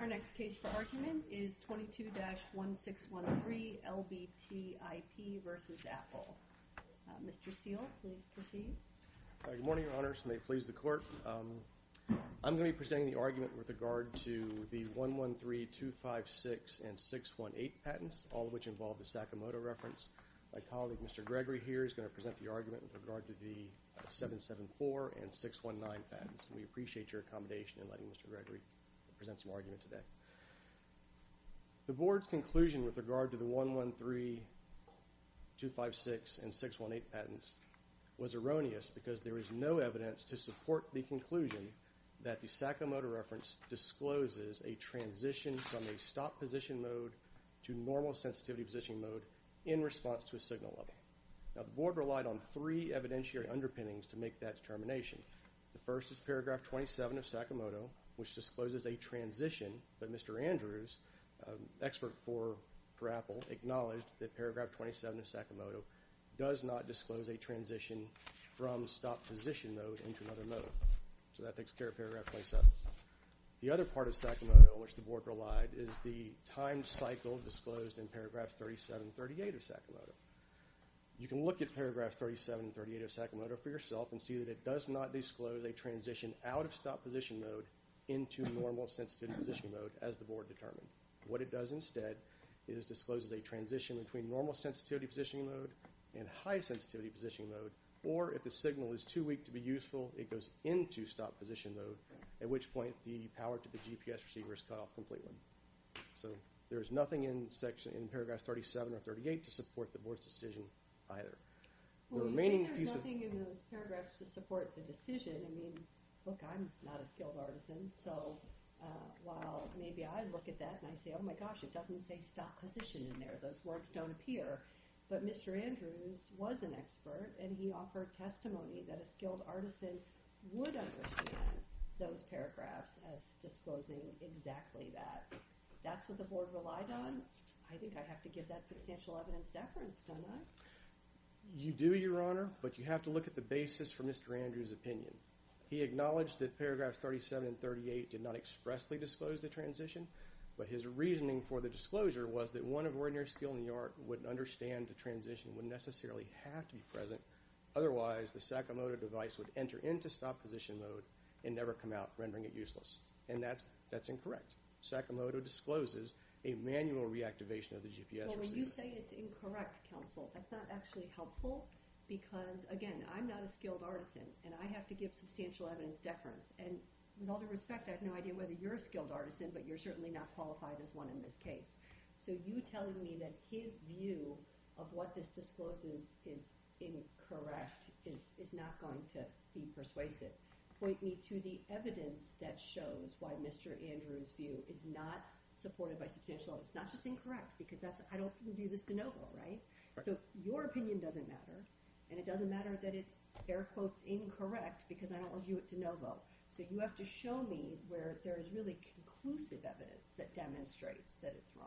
Our next case for argument is 22-1613 LBT IP v. Apple. Mr. Seale, please proceed. Good morning, Your Honors. May it please the Court. I'm going to be presenting the argument with regard to the 113, 256, and 618 patents, all of which involve the Sakamoto reference. My colleague, Mr. Gregory, here is going to present the argument with regard to the 774 and 619 patents. We appreciate your accommodation in letting Mr. Gregory present some argument today. The Board's conclusion with regard to the 113, 256, and 618 patents was erroneous because there is no evidence to support the conclusion that the Sakamoto reference discloses a transition from a stop position mode to normal sensitivity position mode in response to a signal level. The Board relied on three evidentiary underpinnings to make that determination. The first is paragraph 27 of Sakamoto, which discloses a transition, but Mr. Andrews, an expert for Apple, acknowledged that paragraph 27 of Sakamoto does not disclose a transition from stop position mode into another mode. So that takes care of paragraph 27. The other part of Sakamoto on which the Board relied is the time cycle disclosed in paragraphs 37 and 38 of Sakamoto. You can look at paragraphs 37 and 38 of Sakamoto for yourself and see that it does not disclose a transition out of stop position mode into normal sensitivity position mode as the Board determined. What it does instead is disclose a transition between normal sensitivity position mode and high sensitivity position mode, or if the signal is too weak to be useful, it goes into stop position mode, at which point the power to the GPS receiver is cut off completely. So there is nothing in paragraph 37 or 38 to support the Board's decision either. Well, you say there's nothing in those paragraphs to support the decision. I mean, look, I'm not a skilled artisan, so while maybe I look at that and I say, oh my gosh, it doesn't say stop position in there. Those words don't appear. But Mr. Andrews was an expert, and he offered testimony that a skilled artisan would understand those paragraphs as disclosing exactly that. That's what the Board relied on. I think I have to give that substantial evidence deference, don't I? You do, Your Honor, but you have to look at the basis for Mr. Andrews' opinion. He acknowledged that paragraphs 37 and 38 did not expressly disclose the transition, but his reasoning for the disclosure was that one of ordinary skilled art would understand the transition would necessarily have to be present, otherwise the Sakamoto device would enter into stop position mode and never come out, rendering it useless. And that's incorrect. Sakamoto discloses a manual reactivation of the GPS receiver. Well, when you say it's incorrect, counsel, that's not actually helpful because, again, I'm not a skilled artisan, and I have to give substantial evidence deference. And with all due respect, I have no idea whether you're a skilled artisan, but you're certainly not qualified as one in this case. So you telling me that his view of what this discloses is incorrect is not going to be persuasive point me to the evidence that shows why Mr. Andrews' view is not supported by substantial evidence. It's not just incorrect because I don't review this de novo, right? So your opinion doesn't matter, and it doesn't matter that it's, air quotes, incorrect because I don't review it de novo. So you have to show me where there is really conclusive evidence that demonstrates that it's wrong.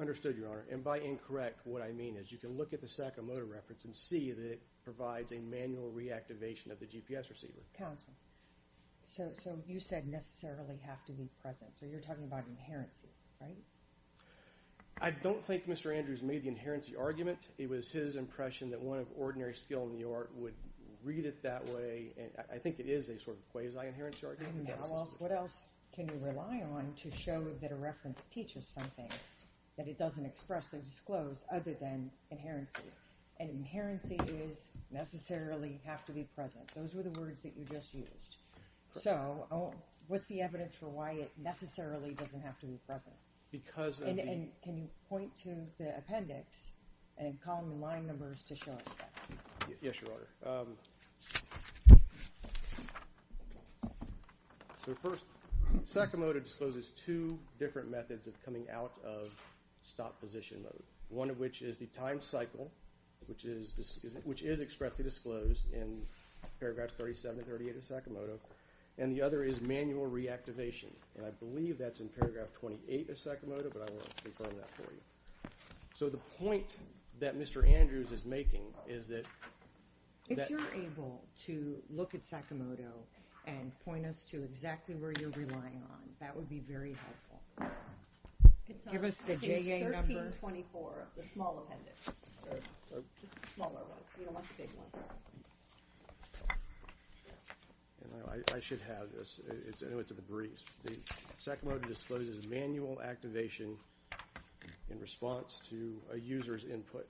Understood, Your Honor. And by incorrect, what I mean is you can look at the Sakamoto reference and see that it provides a manual reactivation of the GPS receiver. Counsel, so you said necessarily have to be present, so you're talking about inherency, right? I don't think Mr. Andrews made the inherency argument. It was his impression that one of ordinary skill in the art would read it that way, and I think it is a sort of quasi-inherency argument. What else can you rely on to show that a reference teaches something that it doesn't express or disclose other than inherency? And inherency is necessarily have to be present. Those were the words that you just used. So what's the evidence for why it necessarily doesn't have to be present? And can you point to the appendix and column line numbers to show us that? Yes, Your Honor. So first, Sakamoto discloses two different methods of coming out of stop-position mode, one of which is the time cycle, which is expressly disclosed in Paragraph 37 and 38 of Sakamoto, and the other is manual reactivation, and I believe that's in Paragraph 28 of Sakamoto, but I won't confirm that for you. So the point that Mr. Andrews is making is that— That would be very helpful. Give us the JA number. I think it's 1324, the small appendix, the smaller one. We don't want the big one. I should have this. I know it's a breeze. Sakamoto discloses manual activation in response to a user's input.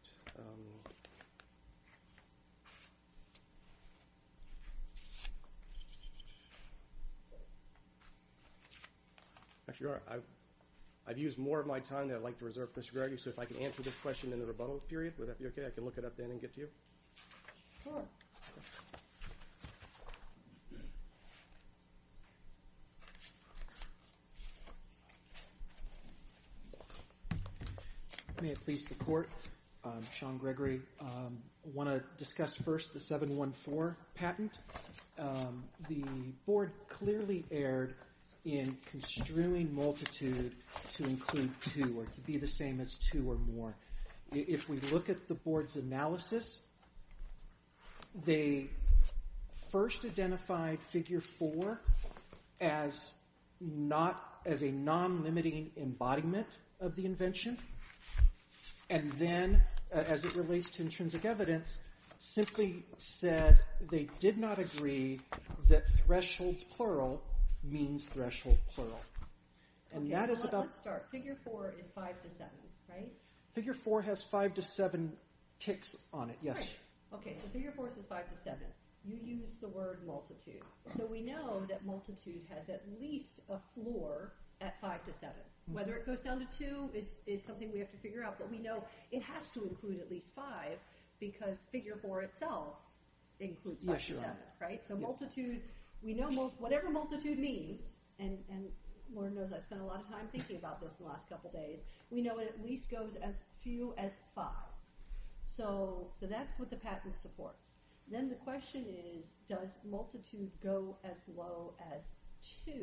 Actually, Your Honor, I've used more of my time than I'd like to reserve for Mr. Gregory, so if I can answer this question in the rebuttal period, would that be okay? I can look it up then and get to you. Sure. May it please the Court, Sean Gregory. I want to discuss first the 714 patent. The Board clearly erred in construing multitude to include two or to be the same as two or more. If we look at the Board's analysis, they first identified Figure 4 as a non-limiting embodiment of the invention, and then, as it relates to intrinsic evidence, simply said they did not agree that thresholds plural means threshold plural. Let's start. Figure 4 is 5 to 7, right? Figure 4 has 5 to 7 ticks on it, yes. Okay, so Figure 4 is 5 to 7. You used the word multitude, so we know that multitude has at least a floor at 5 to 7. Whether it goes down to 2 is something we have to figure out, but we know it has to include at least 5 because Figure 4 itself includes 5 to 7, right? So multitude, we know whatever multitude means, and Lord knows I've spent a lot of time thinking about this the last couple days, we know it at least goes as few as 5. So that's what the patent supports. Then the question is, does multitude go as low as 2?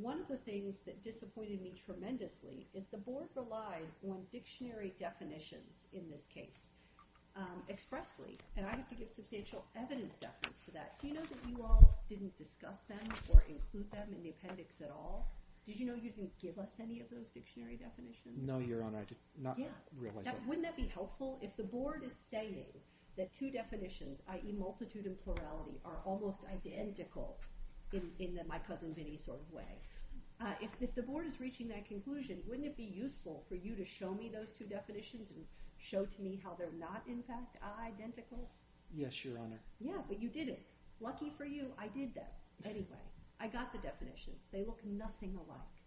One of the things that disappointed me tremendously is the board relied on dictionary definitions in this case expressly, and I have to give substantial evidence to that. Do you know that you all didn't discuss them or include them in the appendix at all? Did you know you didn't give us any of those dictionary definitions? No, Your Honor, I did not realize that. Wouldn't that be helpful if the board is saying that two definitions, i.e. multitude and plurality, are almost identical in my cousin Vinnie's sort of way? If the board is reaching that conclusion, wouldn't it be useful for you to show me those two definitions and show to me how they're not, in fact, identical? Yes, Your Honor. Yeah, but you didn't. Lucky for you, I did that. Anyway, I got the definitions. They look nothing alike.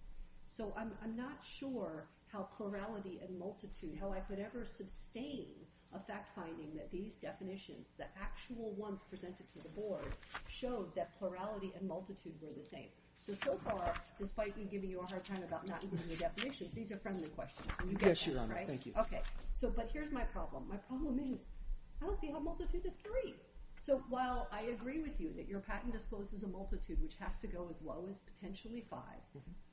So I'm not sure how plurality and multitude, how I could ever sustain a fact finding that these definitions, the actual ones presented to the board, showed that plurality and multitude were the same. So so far, despite me giving you a hard time about not including the definitions, these are friendly questions. Yes, Your Honor, thank you. Okay, but here's my problem. My problem is I don't see how multitude is three. So while I agree with you that your patent discloses a multitude which has to go as low as potentially five,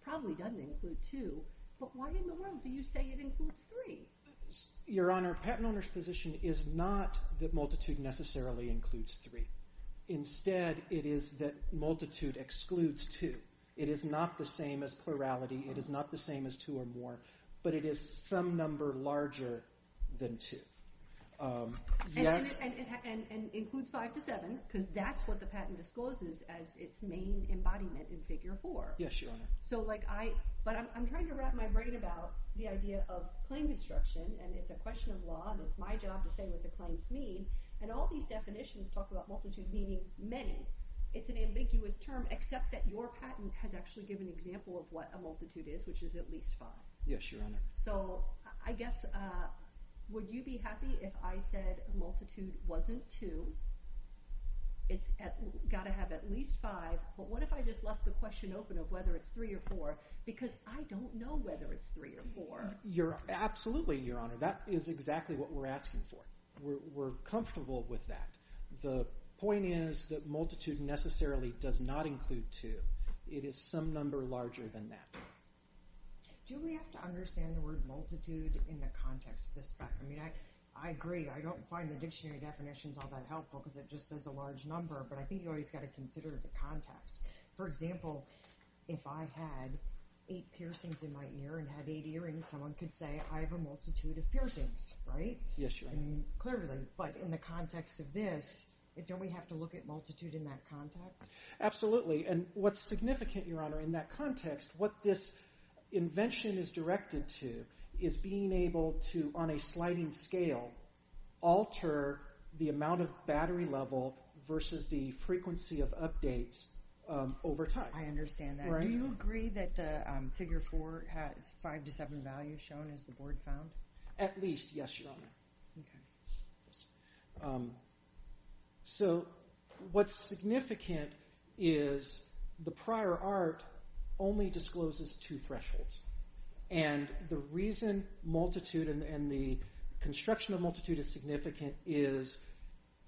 probably doesn't include two, but why in the world do you say it includes three? Your Honor, patent owner's position is not that multitude necessarily includes three. Instead, it is that multitude excludes two. It is not the same as plurality. It is not the same as two or more, but it is some number larger than two. And includes five to seven because that's what the patent discloses as its main embodiment in Figure 4. Yes, Your Honor. So like I – but I'm trying to wrap my brain about the idea of claim construction, and it's a question of law, and it's my job to say what the claims mean, and all these definitions talk about multitude meaning many. It's an ambiguous term except that your patent has actually given an example of what a multitude is, which is at least five. Yes, Your Honor. So I guess would you be happy if I said multitude wasn't two? It's got to have at least five, but what if I just left the question open of whether it's three or four because I don't know whether it's three or four. Absolutely, Your Honor. That is exactly what we're asking for. We're comfortable with that. The point is that multitude necessarily does not include two. It is some number larger than that. Do we have to understand the word multitude in the context of the spec? I mean, I agree. I don't find the dictionary definitions all that helpful because it just says a large number, but I think you always got to consider the context. For example, if I had eight piercings in my ear and had eight earrings, someone could say I have a multitude of piercings, right? Yes, Your Honor. Clearly, but in the context of this, don't we have to look at multitude in that context? Absolutely, and what's significant, Your Honor, in that context, what this invention is directed to is being able to, on a sliding scale, alter the amount of battery level versus the frequency of updates over time. I understand that. Do you agree that the figure four has five to seven values, shown as the board found? At least, yes, Your Honor. Okay. So what's significant is the prior art only discloses two thresholds, and the reason multitude and the construction of multitude is significant is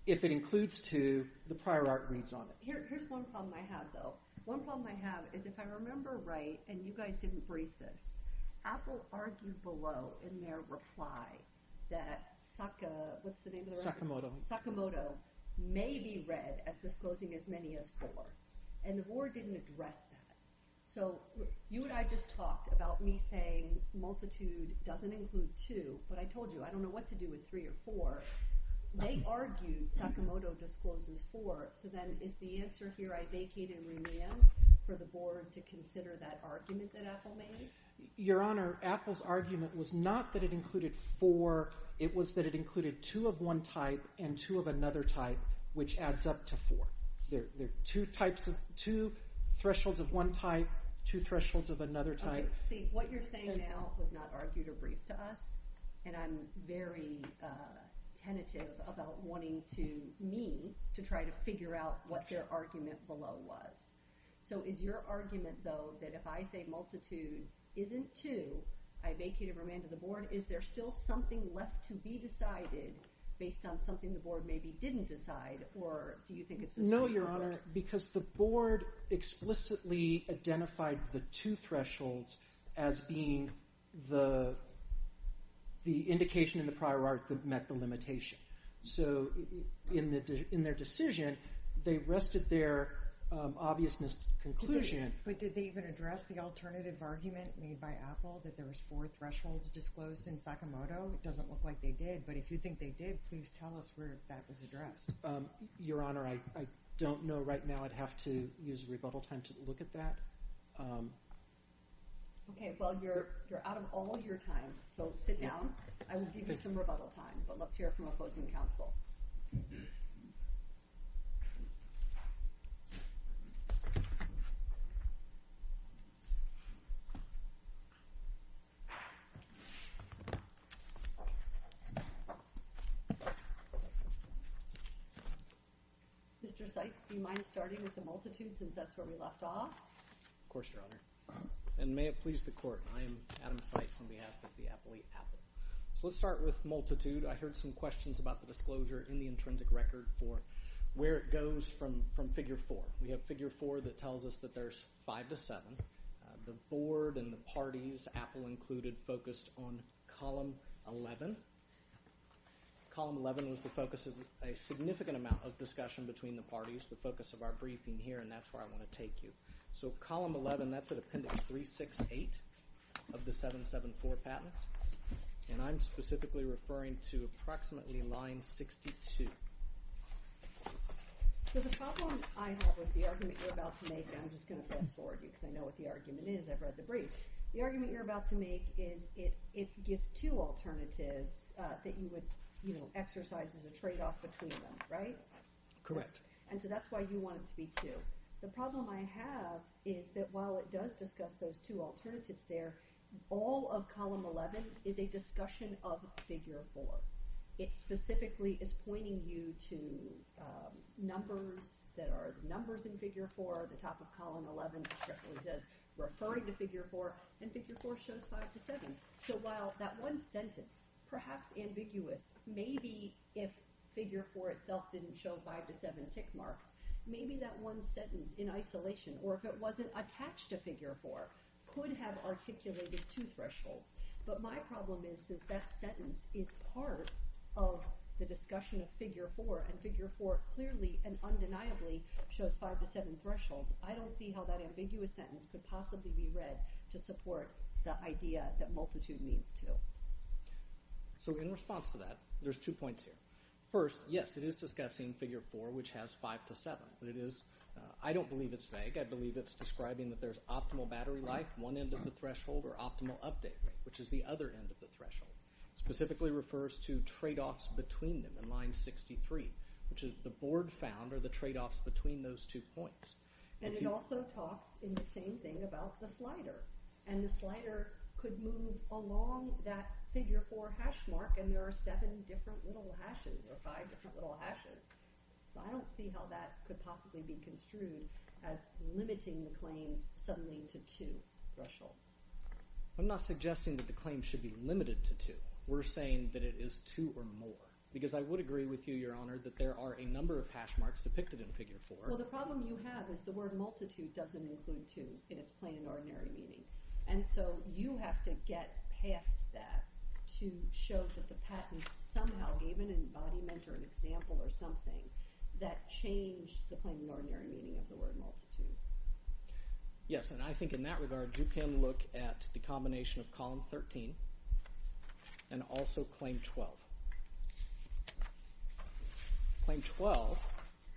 if it includes two, the prior art reads on it. Here's one problem I have, though. One problem I have is if I remember right, and you guys didn't brief this, Apple argued below in their reply that Sakamoto may be read as disclosing as many as four, and the board didn't address that. So you and I just talked about me saying multitude doesn't include two, but I told you I don't know what to do with three or four. They argued Sakamoto discloses four, so then is the answer here I vacate and remand for the board to consider that argument that Apple made? Your Honor, Apple's argument was not that it included four. It was that it included two of one type and two of another type, which adds up to four. Two thresholds of one type, two thresholds of another type. See, what you're saying now was not argued or briefed to us, and I'm very tentative about wanting me to try to figure out what their argument below was. So is your argument, though, that if I say multitude isn't two, I vacate and remand to the board, is there still something left to be decided based on something the board maybe didn't decide, No, Your Honor, because the board explicitly identified the two thresholds as being the indication in the prior article that met the limitation. So in their decision, they rested their obviousness conclusion. But did they even address the alternative argument made by Apple that there was four thresholds disclosed in Sakamoto? It doesn't look like they did, but if you think they did, please tell us where that was addressed. Your Honor, I don't know right now. I'd have to use rebuttal time to look at that. OK, well, you're out of all your time, so sit down. I will give you some rebuttal time, but let's hear from opposing counsel. Mr. Seitz, do you mind starting with the multitude since that's where we left off? Of course, Your Honor, and may it please the court, I am Adam Seitz on behalf of the appellee Apple. So let's start with multitude. I heard some questions about the disclosure in the intrinsic record for where it goes from figure four. We have figure four that tells us that there's five to seven. The board and the parties, Apple included, focused on column 11. Column 11 was the focus of a significant amount of discussion between the parties, the focus of our briefing here, and that's where I want to take you. So column 11, that's at appendix 368 of the 774 patent, and I'm specifically referring to approximately line 62. So the problem I have with the argument you're about to make, and I'm just going to fast forward you because I know what the argument is, I've read the brief. The argument you're about to make is it gives two alternatives that you would exercise as a tradeoff between them, right? Correct. And so that's why you want it to be two. The problem I have is that while it does discuss those two alternatives there, all of column 11 is a discussion of figure four. It specifically is pointing you to numbers that are numbers in figure four. The top of column 11 specifically says referring to figure four, and figure four shows five to seven. So while that one sentence, perhaps ambiguous, maybe if figure four itself didn't show five to seven tick marks, maybe that one sentence in isolation, or if it wasn't attached to figure four, could have articulated two thresholds. But my problem is that sentence is part of the discussion of figure four, and figure four clearly and undeniably shows five to seven thresholds. I don't see how that ambiguous sentence could possibly be read to support the idea that multitude means two. So in response to that, there's two points here. First, yes, it is discussing figure four, which has five to seven, but it is – I don't believe it's vague. I believe it's describing that there's optimal battery life, one end of the threshold, or optimal update, which is the other end of the threshold. It specifically refers to tradeoffs between them in line 63, which is the board found are the tradeoffs between those two points. And it also talks in the same thing about the slider, and the slider could move along that figure four hash mark, and there are seven different little hashes, or five different little hashes. So I don't see how that could possibly be construed as limiting the claims suddenly to two thresholds. I'm not suggesting that the claim should be limited to two. We're saying that it is two or more because I would agree with you, Your Honor, that there are a number of hash marks depicted in figure four. Well, the problem you have is the word multitude doesn't include two in its plain and ordinary meaning. And so you have to get past that to show that the patent somehow gave an embodiment or an example or something that changed the plain and ordinary meaning of the word multitude. Yes, and I think in that regard you can look at the combination of column 13 and also claim 12. Claim 12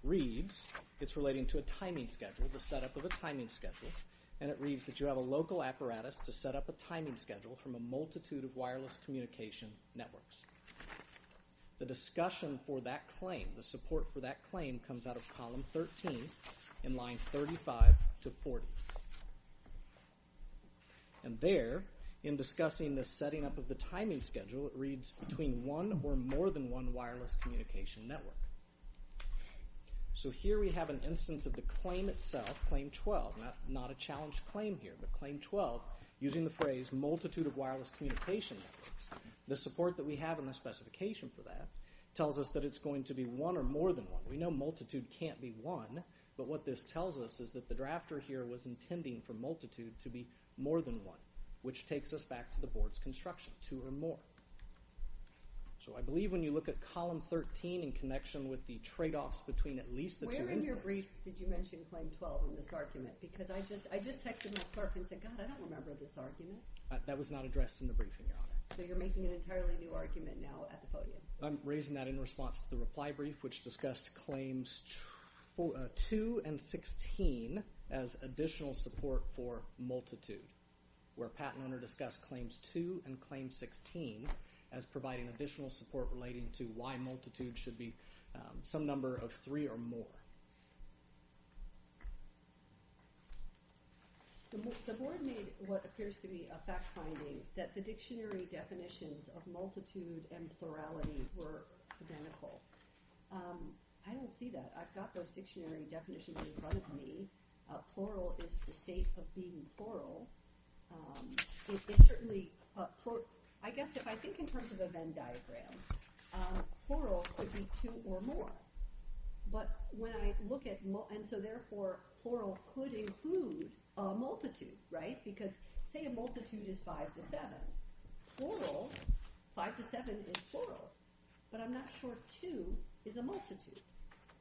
reads it's relating to a timing schedule, the setup of a timing schedule, and it reads that you have a local apparatus to set up a timing schedule from a multitude of wireless communication networks. The discussion for that claim, the support for that claim comes out of column 13 in line 35 to 40. And there, in discussing the setting up of the timing schedule, it reads between one or more than one wireless communication network. So here we have an instance of the claim itself, claim 12, not a challenged claim here, but claim 12, using the phrase multitude of wireless communication networks. The support that we have in the specification for that tells us that it's going to be one or more than one. We know multitude can't be one, but what this tells us is that the drafter here was intending for multitude to be more than one, which takes us back to the board's construction, two or more. So I believe when you look at column 13 in connection with the tradeoffs between at least the two— Where in your brief did you mention claim 12 in this argument? Because I just texted my clerk and said, God, I don't remember this argument. That was not addressed in the briefing, Your Honor. So you're making an entirely new argument now at the podium. I'm raising that in response to the reply brief, which discussed claims 2 and 16 as additional support for multitude, where Pat and Hunter discussed claims 2 and claim 16 as providing additional support relating to why multitude should be some number of three or more. The board made what appears to be a fact finding that the dictionary definitions of multitude and plurality were identical. I don't see that. I've got those dictionary definitions in front of me. Plural is the state of being plural. It's certainly—I guess if I think in terms of a Venn diagram, plural could be two or more. But when I look at—and so therefore plural could include a multitude, right? Because say a multitude is five to seven. Plural, five to seven is plural. But I'm not sure two is a multitude.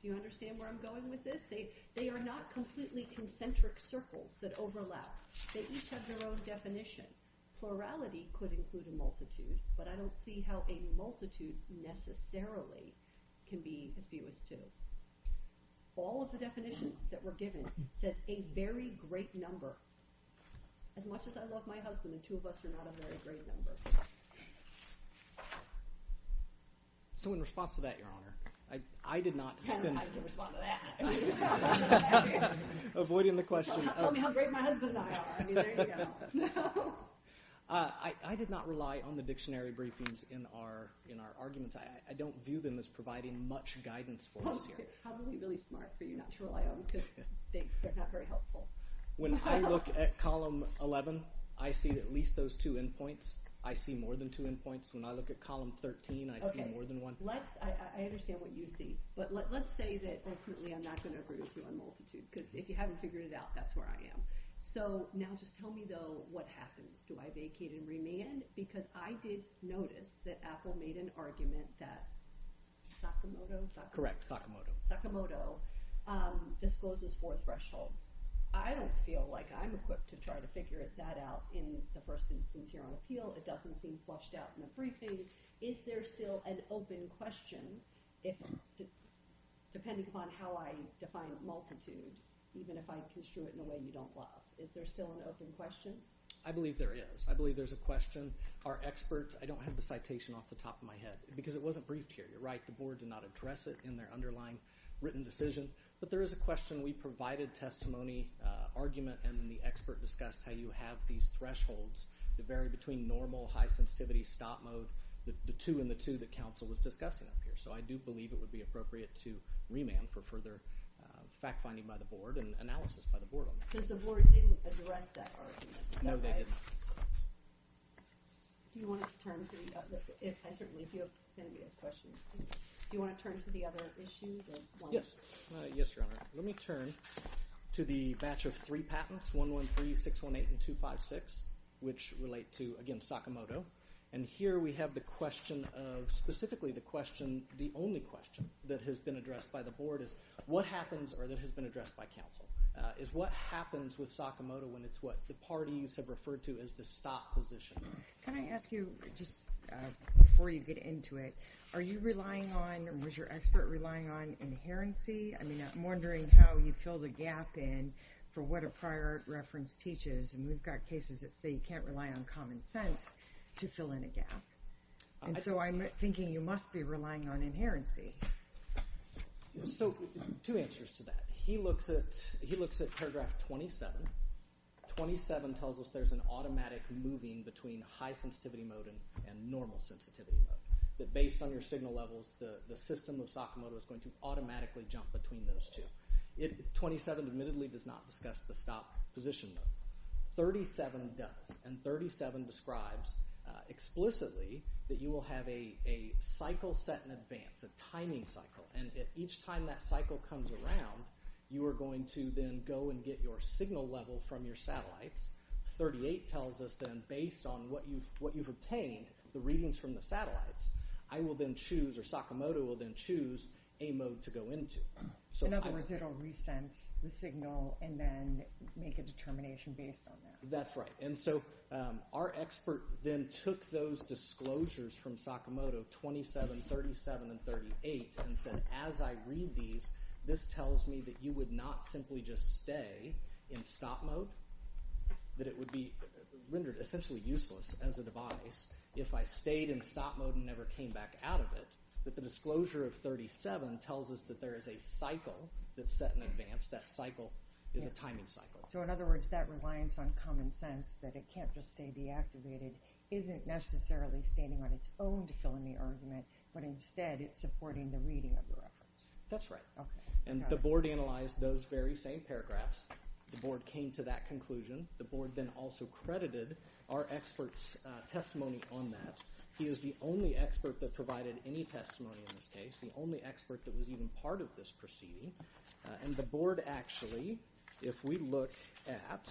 Do you understand where I'm going with this? They are not completely concentric circles that overlap. They each have their own definition. Plurality could include a multitude, but I don't see how a multitude necessarily can be as few as two. All of the definitions that were given says a very great number. As much as I love my husband and two of us are not a very great number. So in response to that, Your Honor, I did not— I can respond to that. Avoiding the question. Tell me how great my husband and I are. I mean, there you go. I did not rely on the dictionary briefings in our arguments. I don't view them as providing much guidance for us here. It's probably really smart for you not to rely on them because they're not very helpful. When I look at Column 11, I see at least those two endpoints. I see more than two endpoints. When I look at Column 13, I see more than one. I understand what you see, but let's say that ultimately I'm not going to agree with you on multitude. Because if you haven't figured it out, that's where I am. So now just tell me, though, what happens. Do I vacate and remand? Because I did notice that Apple made an argument that Sakamoto— Correct, Sakamoto. Sakamoto discloses four thresholds. I don't feel like I'm equipped to try to figure that out in the first instance here on appeal. It doesn't seem flushed out in the briefing. Is there still an open question, depending upon how I define multitude, even if I construe it in a way you don't love, is there still an open question? I believe there is. I believe there's a question. Our experts—I don't have the citation off the top of my head because it wasn't briefed here. You're right, the Board did not address it in their underlying written decision. But there is a question. We provided testimony, argument, and then the expert discussed how you have these thresholds that vary between normal, high-sensitivity, stop mode, the two and the two that counsel was discussing up here. So I do believe it would be appropriate to remand for further fact-finding by the Board and analysis by the Board on that. Because the Board didn't address that argument. No, they didn't. Do you want to turn to the other issue? Yes, Your Honor. Let me turn to the batch of three patents, 113, 618, and 256, which relate to, again, Sakamoto. And here we have the question of—specifically the question, the only question that has been addressed by the Board is what happens or that has been addressed by counsel is what happens with Sakamoto when it's what the parties have referred to as the stop position. Can I ask you, just before you get into it, are you relying on or was your expert relying on inherency? I mean, I'm wondering how you fill the gap in for what a prior reference teaches. And we've got cases that say you can't rely on common sense to fill in a gap. And so I'm thinking you must be relying on inherency. So two answers to that. He looks at paragraph 27. 27 tells us there's an automatic moving between high-sensitivity mode and normal-sensitivity mode, that based on your signal levels, the system of Sakamoto is going to automatically jump between those two. 27 admittedly does not discuss the stop position though. 37 does, and 37 describes explicitly that you will have a cycle set in advance, it's a timing cycle, and each time that cycle comes around, you are going to then go and get your signal level from your satellites. 38 tells us then based on what you've obtained, the readings from the satellites, I will then choose or Sakamoto will then choose a mode to go into. In other words, it will re-sense the signal and then make a determination based on that. That's right. And so our expert then took those disclosures from Sakamoto, 27, 37, and 38, and said as I read these, this tells me that you would not simply just stay in stop mode, that it would be rendered essentially useless as a device if I stayed in stop mode and never came back out of it, but the disclosure of 37 tells us that there is a cycle that's set in advance. That cycle is a timing cycle. So in other words, that reliance on common sense that it can't just stay deactivated isn't necessarily standing on its own to fill in the argument, but instead it's supporting the reading of the reference. That's right. Okay. And the board analyzed those very same paragraphs. The board came to that conclusion. The board then also credited our expert's testimony on that. He is the only expert that provided any testimony in this case, the only expert that was even part of this proceeding, and the board actually, if we look at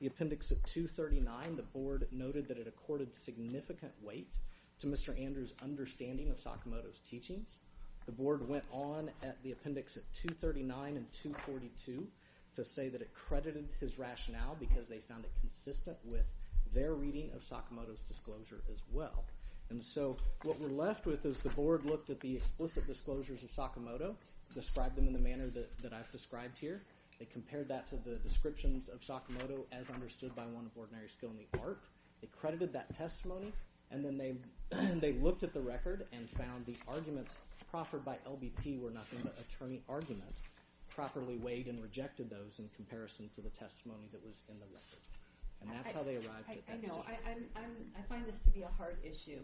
the appendix of 239, the board noted that it accorded significant weight to Mr. Andrews' understanding of Sakamoto's teachings. The board went on at the appendix of 239 and 242 to say that it credited his rationale because they found it consistent with their reading of Sakamoto's disclosure as well. And so what we're left with is the board looked at the explicit disclosures of Sakamoto, described them in the manner that I've described here. They compared that to the descriptions of Sakamoto as understood by one of ordinary skill in the art. They credited that testimony, and then they looked at the record and found the arguments proffered by LBT were not in the attorney argument, properly weighed and rejected those in comparison to the testimony that was in the record. And that's how they arrived at that conclusion. I know. I find this to be a hard issue.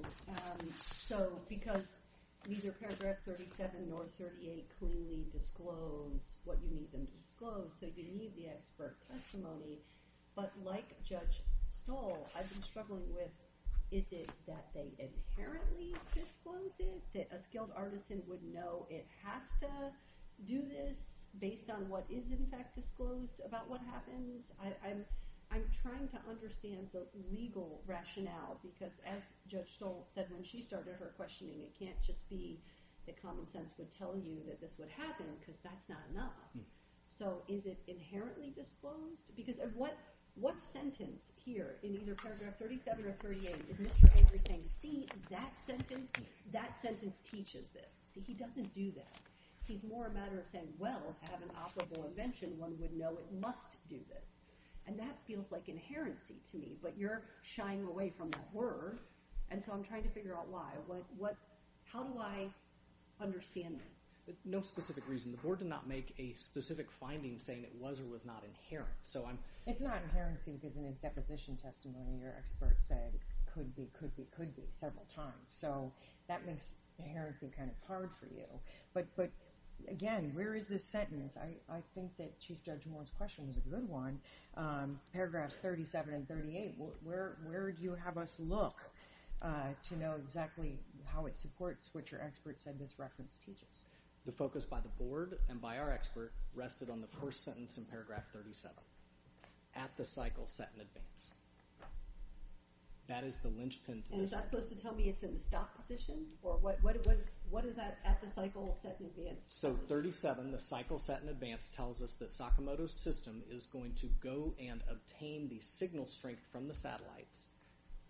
So because neither paragraph 37 nor 38 cleanly disclose what you need them to disclose, so you need the expert testimony, but like Judge Stoll, I've been struggling with, is it that they inherently disclose it, that a skilled artisan would know it has to do this based on what is in fact disclosed about what happens? I'm trying to understand the legal rationale because as Judge Stoll said when she started her questioning, it can't just be that common sense would tell you that this would happen because that's not enough. So is it inherently disclosed? Because what sentence here in either paragraph 37 or 38 is Mr. Avery saying, see, that sentence teaches this. See, he doesn't do that. He's more a matter of saying, well, to have an operable invention, one would know it must do this. And that feels like inherency to me, but you're shying away from the word, and so I'm trying to figure out why. How do I understand this? No specific reason. The Board did not make a specific finding saying it was or was not inherent. It's not inherency because in his deposition testimony, your expert said it could be, could be, could be several times. So that makes inherency kind of hard for you. But, again, where is this sentence? I think that Chief Judge Moore's question was a good one. Paragraphs 37 and 38, where do you have us look to know exactly how it supports what your expert said this reference teaches? The focus by the Board and by our expert rested on the first sentence in paragraph 37, at the cycle set in advance. That is the lynchpin. And is that supposed to tell me it's in the stop position? Or what is that at the cycle set in advance? So 37, the cycle set in advance, tells us that Sakamoto's system is going to go and obtain the signal strength from the satellites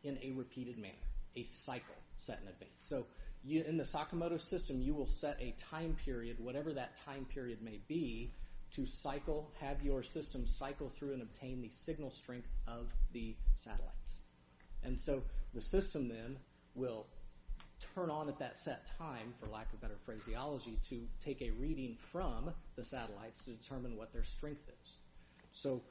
in a repeated manner, a cycle set in advance. So in the Sakamoto system, you will set a time period, whatever that time period may be, to cycle, have your system cycle through and obtain the signal strength of the satellites. And so the system then will turn on at that set time, for lack of better phraseology, to take a reading from the satellites to determine what their strength is. So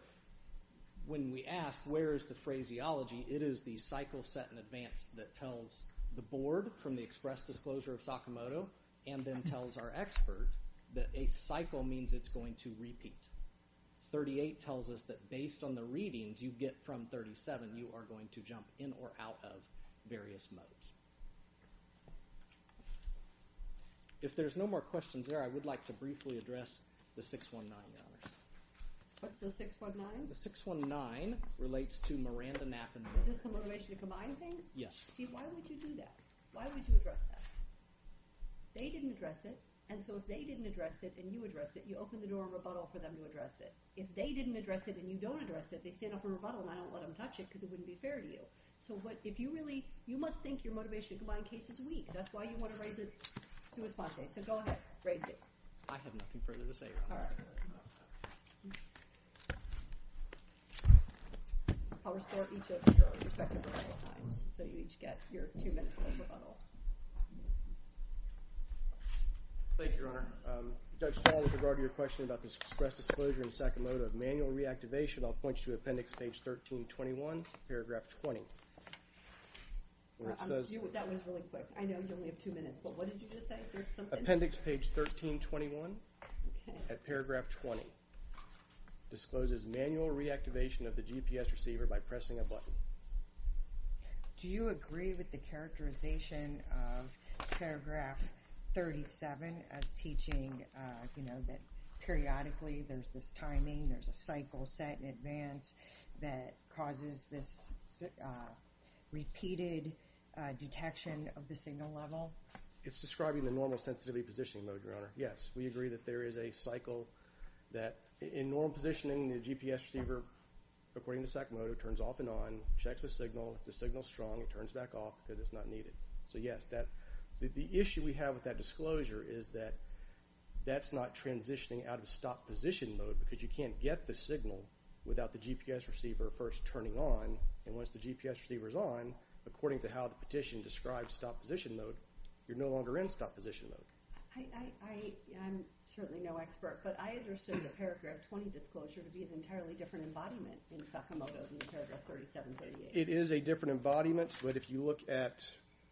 when we ask, where is the phraseology? It is the cycle set in advance that tells the Board from the express disclosure of Sakamoto and then tells our expert that a cycle means it's going to repeat. 38 tells us that based on the readings you get from 37, you are going to jump in or out of various modes. If there's no more questions there, I would like to briefly address the 619. What's the 619? The 619 relates to Miranda Knappen. Is this the motivation to combine things? Yes. See, why would you do that? Why would you address that? They didn't address it, and so if they didn't address it and you address it, you open the door of rebuttal for them to address it. If they didn't address it and you don't address it, they stand up for rebuttal, and I don't let them touch it because it wouldn't be fair to you. So if you really – you must think your motivation to combine cases is weak. That's why you want to raise a sua sponte. So go ahead. Raise it. I have nothing further to say. All right. I'll restore each of your respective rebuttal times so you each get your two minutes of rebuttal. Thank you, Your Honor. Judge Stahl, with regard to your question about the express disclosure and second mode of manual reactivation, I'll point you to Appendix Page 1321, Paragraph 20. That was really quick. I know you only have two minutes, but what did you just say? There's something? Appendix Page 1321 at Paragraph 20 discloses manual reactivation of the GPS receiver by pressing a button. Do you agree with the characterization of Paragraph 37 as teaching, you know, that periodically there's this timing, there's a cycle set in advance that causes this repeated detection of the signal level? It's describing the normal sensitivity positioning mode, Your Honor. Yes, we agree that there is a cycle that – in normal positioning, the GPS receiver, according to second mode, turns off and on, checks the signal. If the signal is strong, it turns back off because it's not needed. So, yes, the issue we have with that disclosure is that that's not transitioning out of stop position mode because you can't get the signal without the GPS receiver first turning on, and once the GPS receiver is on, according to how the petition describes stop position mode, you're no longer in stop position mode. I'm certainly no expert, but I understood the Paragraph 20 disclosure to be an entirely different embodiment than Sakamoto's in Paragraph 37-38. It is a different embodiment, but if you look at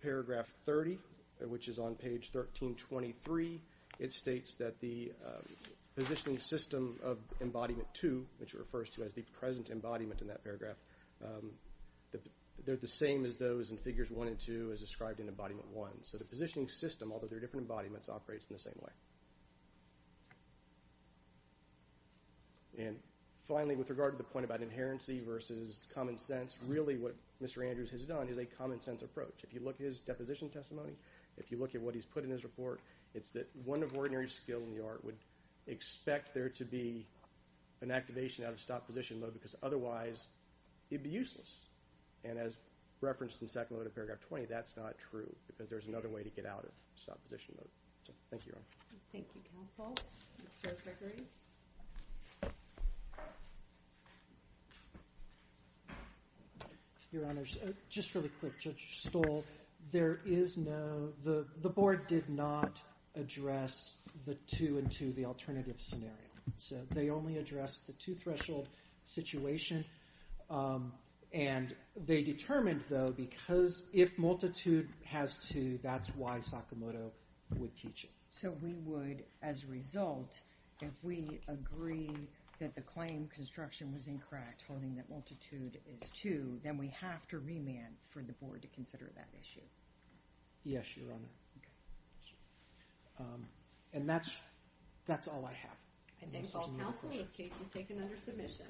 Paragraph 30, which is on page 1323, it states that the positioning system of Embodiment 2, which it refers to as the present embodiment in that paragraph, they're the same as those in Figures 1 and 2 as described in Embodiment 1. So the positioning system, although they're different embodiments, operates in the same way. And finally, with regard to the point about inherency versus common sense, really what Mr. Andrews has done is a common sense approach. If you look at his deposition testimony, if you look at what he's put in his report, it's that one of ordinary skill in the art would expect there to be an activation out of stop position mode because otherwise it'd be useless. And as referenced in Sakamoto in Paragraph 20, that's not true because there's another way to get out of stop position mode. Thank you, Your Honor. Thank you, counsel. Mr. Gregory? Your Honor, just really quick, Judge Stoll. There is no—the board did not address the 2 and 2, the alternative scenario. So they only addressed the two-threshold situation. And they determined, though, because if multitude has two, that's why Sakamoto would teach it. So we would, as a result, if we agree that the claim construction was incorrect, holding that multitude is two, then we have to remand for the board to consider that issue. Yes, Your Honor. And that's all I have. I think all counsel is taken under submission.